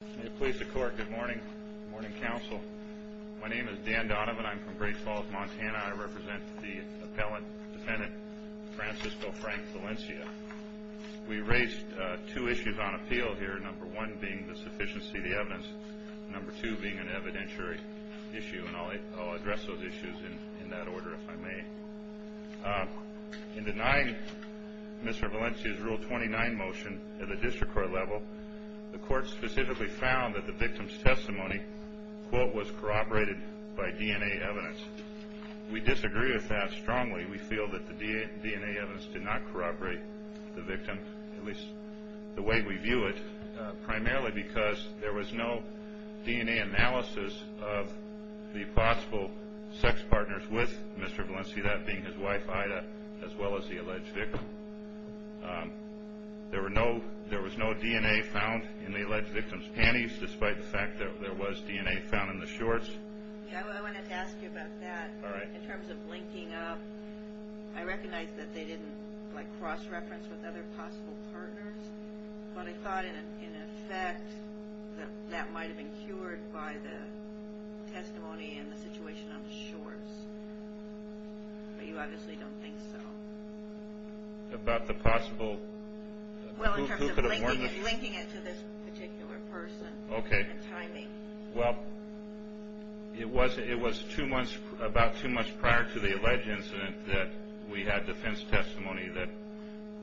May it please the court, good morning. Good morning, counsel. My name is Dan Donovan. I'm from Great Falls, Montana. I represent the appellate defendant, Francisco Frank Valencia. We raised two issues on appeal here, number one being the sufficiency of the evidence, number two being an evidentiary issue, and I'll address those issues in that order if I may. In denying Mr. Valencia's Rule 29 motion at the district court level, the court specifically found that the victim's testimony, quote, was corroborated by DNA evidence. We disagree with that strongly. We feel that the DNA evidence did not corroborate the victim, at least the way we view it, primarily because there was no DNA analysis of the possible sex partners with Mr. Valencia, that being his wife Ida, as well as the alleged victim. There was no DNA found in the alleged victim's panties, despite the fact that there was DNA found in the shorts. Yeah, I wanted to ask you about that. All right. In terms of linking up, I recognize that they didn't, like, cross-reference with other possible partners, but I thought, in effect, that that might have been cured by the testimony and the situation on the shorts. But you obviously don't think so. About the possible? Well, in terms of linking it to this particular person. Okay. And timing. Well, it was about two months prior to the alleged incident that we had defense testimony that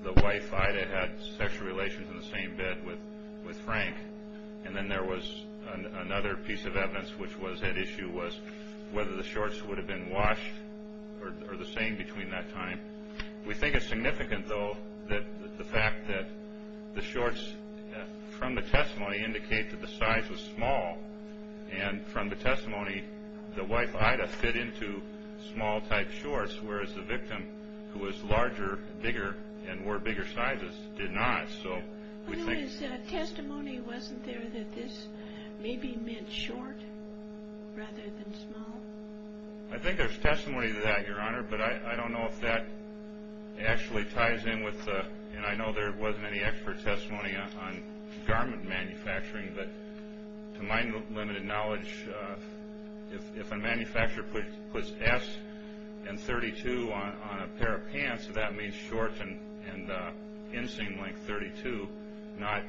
the wife Ida had sexual relations in the same bed with Frank, and then there was another piece of evidence, which was at issue, was whether the shorts would have been washed or the same between that time. We think it's significant, though, that the fact that the shorts, from the testimony, indicate that the size was small, and from the testimony, the wife Ida fit into small-type shorts, whereas the victim, who was larger, bigger, and wore bigger sizes, did not. Testimony wasn't there that this maybe meant short rather than small? I think there's testimony to that, Your Honor, but I don't know if that actually ties in with the, and I know there wasn't any expert testimony on garment manufacturing, but to my limited knowledge, if a manufacturer puts S and 32 on a pair of pants, that means shorts and inseam length 32, not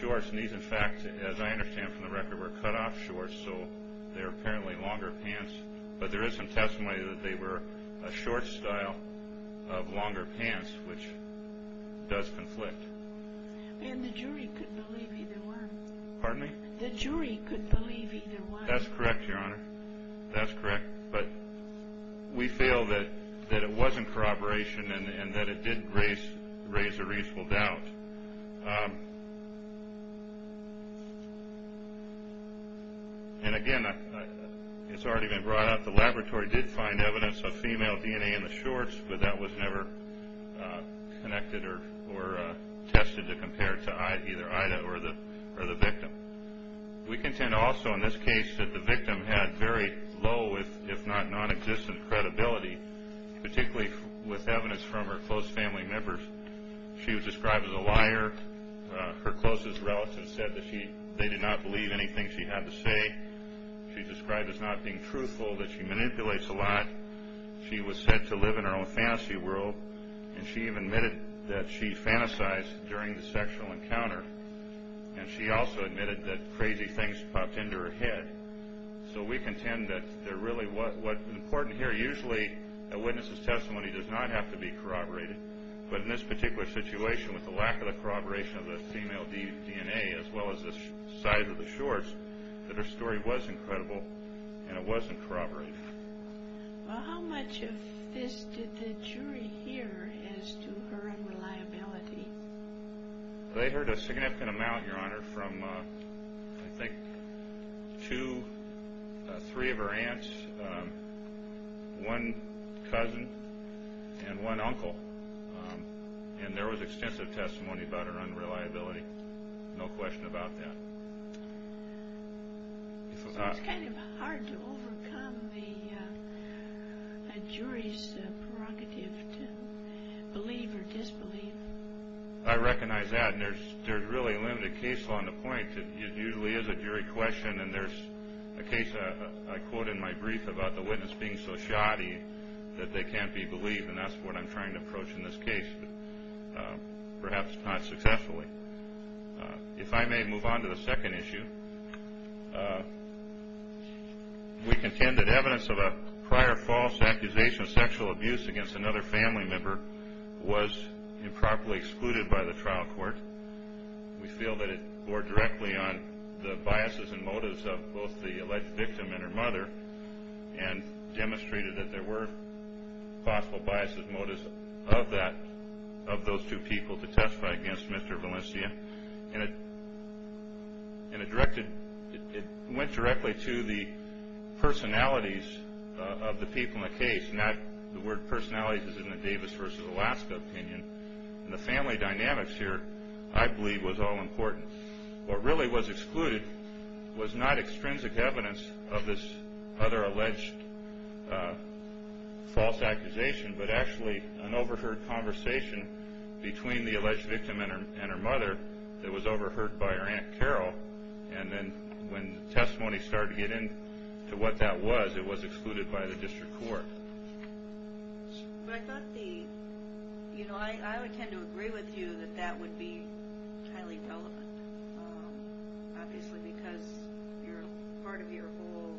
shorts. And these, in fact, as I understand from the record, were cut-off shorts, so they were apparently longer pants. But there is some testimony that they were a short style of longer pants, which does conflict. And the jury couldn't believe either one. Pardon me? The jury couldn't believe either one. That's correct, Your Honor. That's correct. But we feel that it wasn't corroboration and that it did raise a reasonable doubt. And, again, it's already been brought up. The laboratory did find evidence of female DNA in the shorts, but that was never connected or tested to compare it to either Ida or the victim. We contend also in this case that the victim had very low, if not nonexistent, credibility, particularly with evidence from her close family members. She was described as a liar. Her closest relatives said that they did not believe anything she had to say. She's described as not being truthful, that she manipulates a lot. She was said to live in her own fantasy world, and she even admitted that she fantasized during the sexual encounter. And she also admitted that crazy things popped into her head. So we contend that really what's important here, usually a witness's testimony does not have to be corroborated. But in this particular situation, with the lack of the corroboration of the female DNA, as well as the size of the shorts, that her story was incredible and it wasn't corroborated. Well, how much of this did the jury hear as to her unreliability? They heard a significant amount, Your Honor, from I think two, three of her aunts, one cousin, and one uncle. And there was extensive testimony about her unreliability. No question about that. It's kind of hard to overcome a jury's prerogative to believe or disbelieve. I recognize that, and there's really limited case law on the point. It usually is a jury question, and there's a case I quote in my brief about the witness being so shoddy that they can't be believed, and that's what I'm trying to approach in this case, perhaps not successfully. If I may move on to the second issue, we contend that evidence of a prior false accusation of sexual abuse against another family member was improperly excluded by the trial court. We feel that it bore directly on the biases and motives of both the alleged victim and her mother and demonstrated that there were possible biases and motives of that, of those two people to testify against Mr. Valencia. And it directed, it went directly to the personalities of the people in the case, not the word personalities as in the Davis versus Alaska opinion. And the family dynamics here, I believe, was all important. What really was excluded was not extrinsic evidence of this other alleged false accusation, but actually an overheard conversation between the alleged victim and her mother that was overheard by her Aunt Carol, and then when testimony started to get into what that was, it was excluded by the district court. But I thought the, you know, I would tend to agree with you that that would be highly relevant, obviously because part of your whole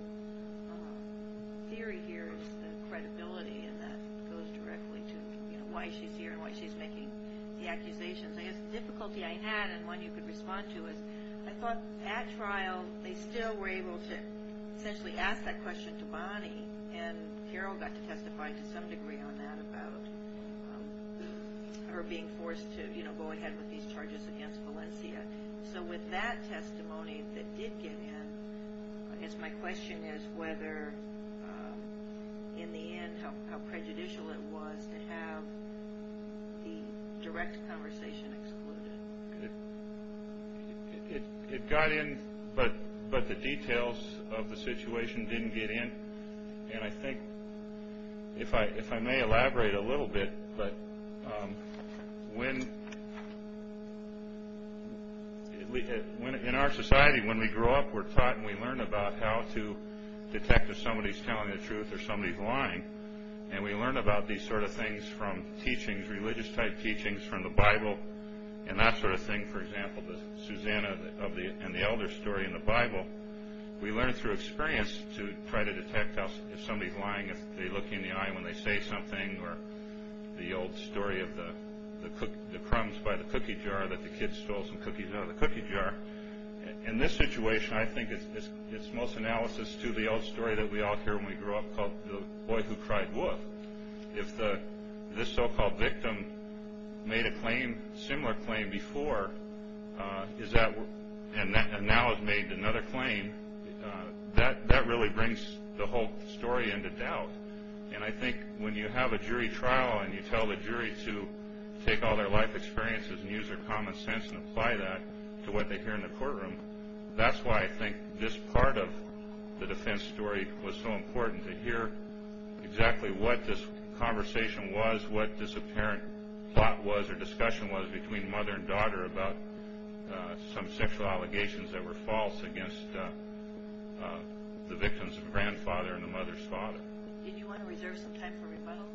theory here is the credibility, and that goes directly to, you know, why she's here and why she's making the accusations. I guess the difficulty I had, and one you could respond to, is I thought at trial they still were able to essentially ask that question to Bonnie, and Carol got to testify to some degree on that about her being forced to, you know, go ahead with these charges against Valencia. So with that testimony that did get in, I guess my question is whether in the end how prejudicial it was to have the direct conversation excluded. It got in, but the details of the situation didn't get in, and I think if I may elaborate a little bit, but when, in our society, when we grow up, we're taught and we learn about how to detect if somebody's telling the truth or somebody's lying, and we learn about these sort of things from teachings, religious-type teachings from the Bible, and that sort of thing, for example, the Susanna and the Elder story in the Bible, we learn through experience to try to detect if somebody's lying, if they look you in the eye when they say something, or the old story of the crumbs by the cookie jar that the kid stole some cookies out of the cookie jar. In this situation, I think it's most analysis to the old story that we all hear when we grow up called the boy who cried wolf. If this so-called victim made a similar claim before and now has made another claim, that really brings the whole story into doubt, and I think when you have a jury trial and you tell the jury to take all their life experiences and use their common sense and apply that to what they hear in the courtroom, that's why I think this part of the defense story was so important to hear exactly what this conversation was, what this apparent plot was or discussion was between mother and daughter about some sexual allegations that were false against the victims' grandfather and the mother's father. Did you want to reserve some time for rebuttal?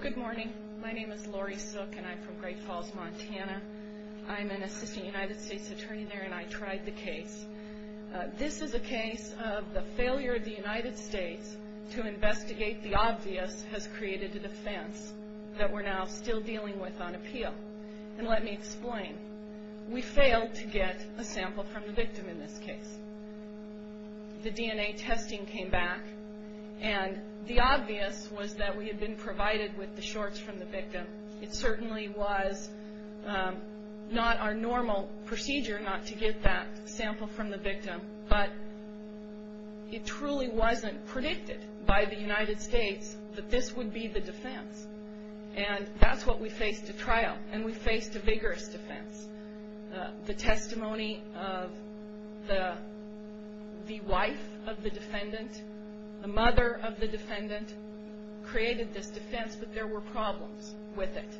Good morning. My name is Lori Sook, and I'm from Great Falls, Montana. I'm an assistant United States attorney there, and I tried the case. This is a case of the failure of the United States to investigate the obvious has created a defense that we're now still dealing with on appeal, and let me explain. We failed to get a sample from the victim in this case. The DNA testing came back, and the obvious was that we had been provided with the shorts from the victim. It certainly was not our normal procedure not to get that sample from the victim, but it truly wasn't predicted by the United States that this would be the defense, and that's what we faced at trial, and we faced a vigorous defense. The testimony of the wife of the defendant, the mother of the defendant, created this defense, but there were problems with it.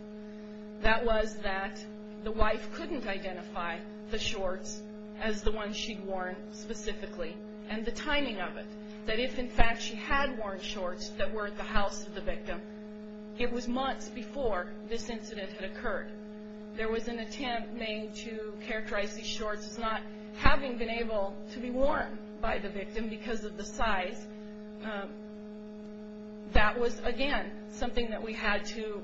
That was that the wife couldn't identify the shorts as the ones she'd worn specifically, and the timing of it, that if, in fact, she had worn shorts that were at the house of the victim, it was months before this incident had occurred. There was an attempt made to characterize these shorts as not having been able to be worn by the victim because of the size. That was, again, something that we had to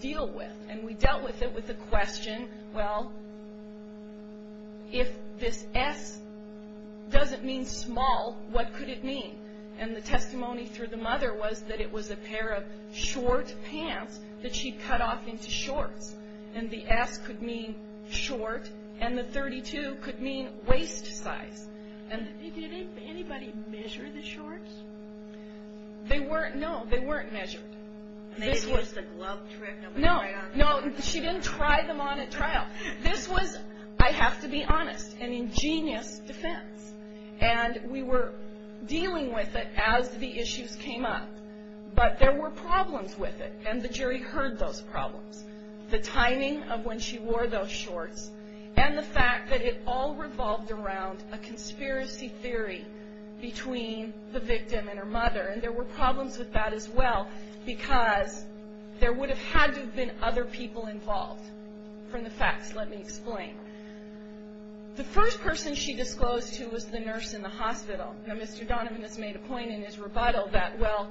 deal with, and we dealt with it with the question, well, if this S doesn't mean small, what could it mean? And the testimony through the mother was that it was a pair of short pants that she'd cut off into shorts, and the S could mean short, and the 32 could mean waist size. Did anybody measure the shorts? They weren't. No, they weren't measured. Maybe it was a glove trick. No, no, she didn't try them on at trial. This was, I have to be honest, an ingenious defense, and we were dealing with it as the issues came up, but there were problems with it, and the jury heard those problems, the timing of when she wore those shorts, and the fact that it all revolved around a conspiracy theory between the victim and her mother, and there were problems with that as well because there would have had to have been other people involved from the facts, let me explain. The first person she disclosed to was the nurse in the hospital. Now, Mr. Donovan has made a point in his rebuttal that, well,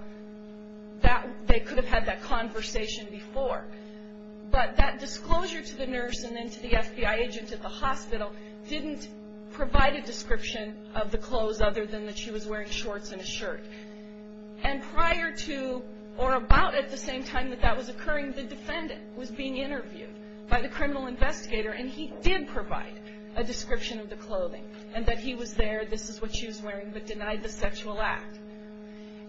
they could have had that conversation before, but that disclosure to the nurse and then to the FBI agent at the hospital didn't provide a description of the clothes other than that she was wearing shorts and a shirt. And prior to or about at the same time that that was occurring, the defendant was being interviewed by the criminal investigator, and he did provide a description of the clothing and that he was there, this is what she was wearing, but denied the sexual act.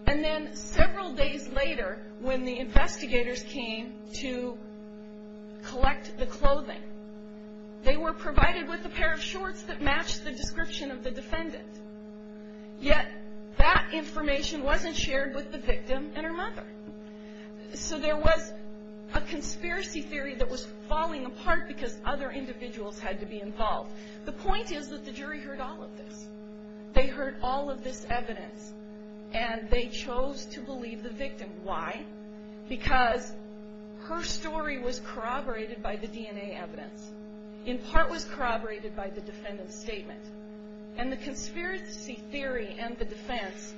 And then several days later when the investigators came to collect the clothing, they were provided with a pair of shorts that matched the description of the defendant, yet that information wasn't shared with the victim and her mother. So there was a conspiracy theory that was falling apart because other individuals had to be involved. The point is that the jury heard all of this. They heard all of this evidence and they chose to believe the victim. Why? Because her story was corroborated by the DNA evidence, in part was corroborated by the defendant's statement, and the conspiracy theory and the defense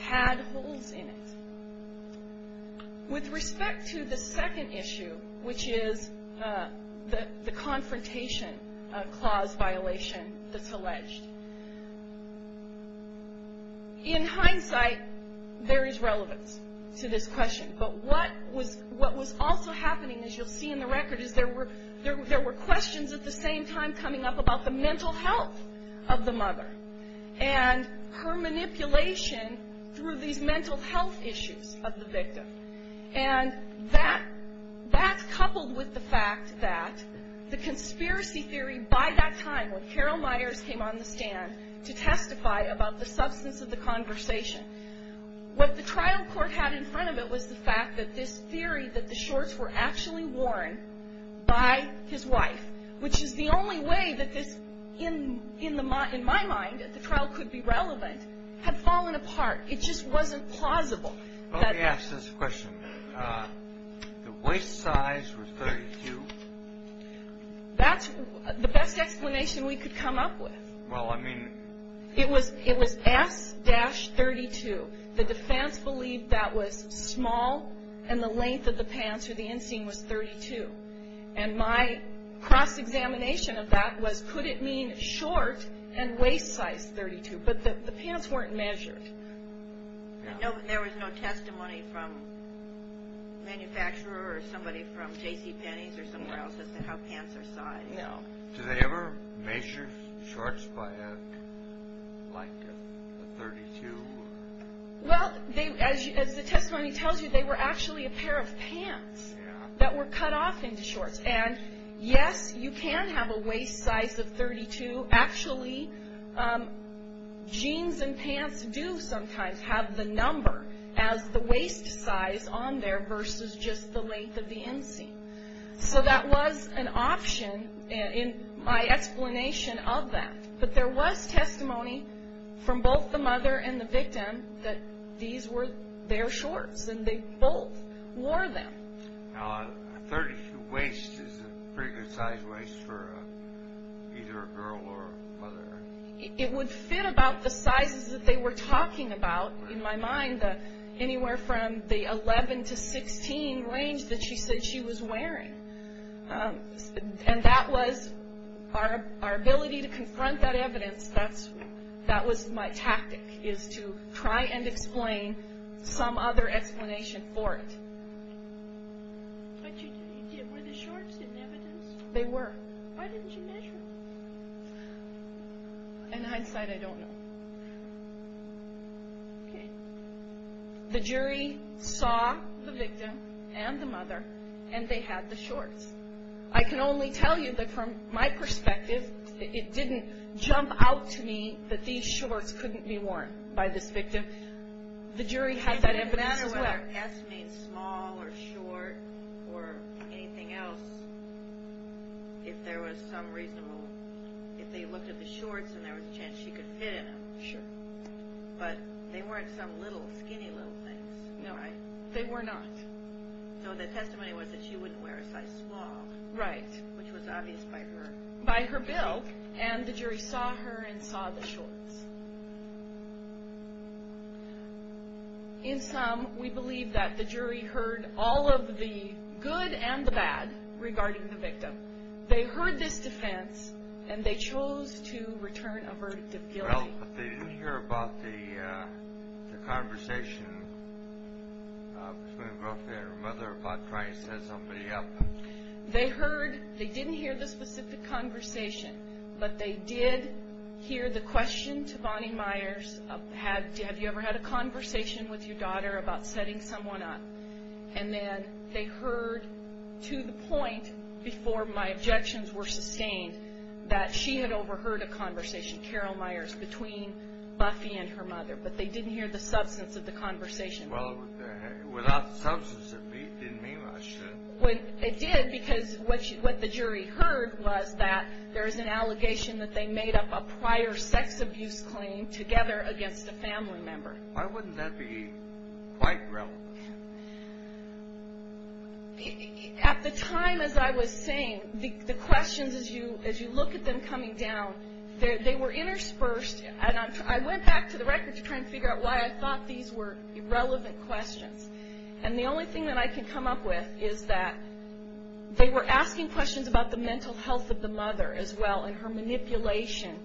had holes in it. With respect to the second issue, which is the confrontation clause violation that's alleged. In hindsight, there is relevance to this question, but what was also happening, as you'll see in the record, is there were questions at the same time coming up about the mental health of the mother and her manipulation through these mental health issues of the victim. And that's coupled with the fact that the conspiracy theory by that time, when Carol Myers came on the stand to testify about the substance of the conversation, what the trial court had in front of it was the fact that this theory that the shorts were actually worn by his wife, which is the only way that this, in my mind, that the trial could be relevant, had fallen apart. It just wasn't plausible. Let me ask this question. The waist size was 32. That's the best explanation we could come up with. It was S-32. The defense believed that was small and the length of the pants or the inseam was 32. And my cross-examination of that was could it mean short and waist size 32? But the pants weren't measured. There was no testimony from the manufacturer or somebody from J.C. Penney's or somewhere else as to how pants are sized. No. Did they ever measure shorts by, like, a 32? Well, as the testimony tells you, they were actually a pair of pants that were cut off into shorts. And, yes, you can have a waist size of 32. Actually, jeans and pants do sometimes have the number as the waist size on there versus just the length of the inseam. So that was an option in my explanation of that. But there was testimony from both the mother and the victim that these were their shorts and they both wore them. Now, a 32 waist is a pretty good size waist for either a girl or a mother. It would fit about the sizes that they were talking about, in my mind, anywhere from the 11 to 16 range that she said she was wearing. And that was our ability to confront that evidence. That was my tactic, is to try and explain some other explanation for it. But were the shorts evidence? They were. Why didn't you measure them? In hindsight, I don't know. Okay. The jury saw the victim and the mother, and they had the shorts. I can only tell you that, from my perspective, it didn't jump out to me that these shorts couldn't be worn by this victim. The jury had that evidence as well. Whether S means small or short or anything else, if there was some reasonable, if they looked at the shorts and there was a chance she could fit in them. Sure. But they weren't some little, skinny little things. No, they were not. So the testimony was that she wouldn't wear a size small. Right. Which was obvious by her. By her bill. And the jury saw her and saw the shorts. In sum, we believe that the jury heard all of the good and the bad regarding the victim. They heard this defense, and they chose to return a verdict of guilty. Well, but they didn't hear about the conversation between the girlfriend and her mother about trying to set somebody up. They heard, they didn't hear the specific conversation, but they did hear the question to Bonnie Myers, have you ever had a conversation with your daughter about setting someone up? And then they heard to the point, before my objections were sustained, that she had overheard a conversation, Carol Myers, between Buffy and her mother. But they didn't hear the substance of the conversation. Well, without the substance, it didn't mean much. It did, because what the jury heard was that there was an allegation that they made up a prior sex abuse claim together against a family member. Why wouldn't that be quite relevant? At the time, as I was saying, the questions, as you look at them coming down, they were interspersed, and I went back to the records to try and figure out why I thought these were irrelevant questions. And the only thing that I can come up with is that they were asking questions about the mental health of the mother, as well, and her manipulation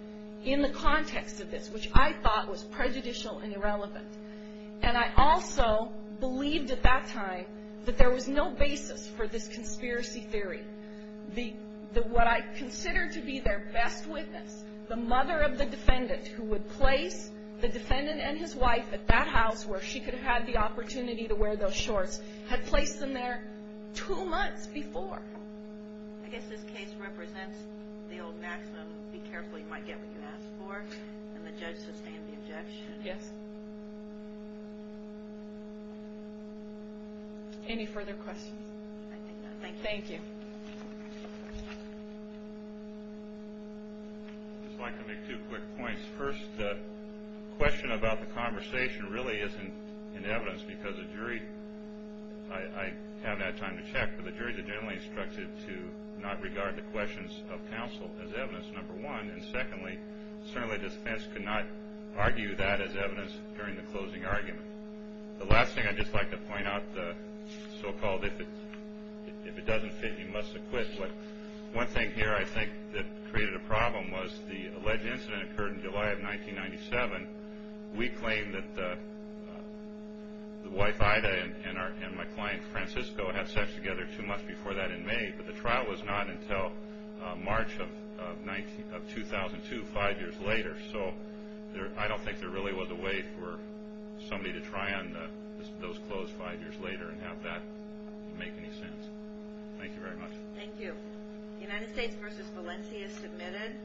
in the context of this, which I thought was prejudicial and irrelevant. And I also believed at that time that there was no basis for this conspiracy theory. What I considered to be their best witness, the mother of the defendant, who would place the defendant and his wife at that house where she could have had the opportunity to wear those shorts, had placed them there two months before. I guess this case represents the old maxim, be careful you might get what you ask for, and the judge sustained the objection. Yes. Any further questions? I think not. Thank you. Thank you. I'd just like to make two quick points. First, the question about the conversation really isn't in evidence because the jury, I haven't had time to check, but the jury is generally instructed to not regard the questions of counsel as evidence, number one. And secondly, certainly the defense could not argue that as evidence during the closing argument. The last thing I'd just like to point out, the so-called if it doesn't fit, you must acquit. One thing here I think that created a problem was the alleged incident occurred in July of 1997. We claim that the wife, Ida, and my client, Francisco, had sex together two months before that in May, but the trial was not until March of 2002, five years later. So I don't think there really was a way for somebody to try on those clothes five years later and have that make any sense. Thank you very much. Thank you. United States v. Valencia submitted.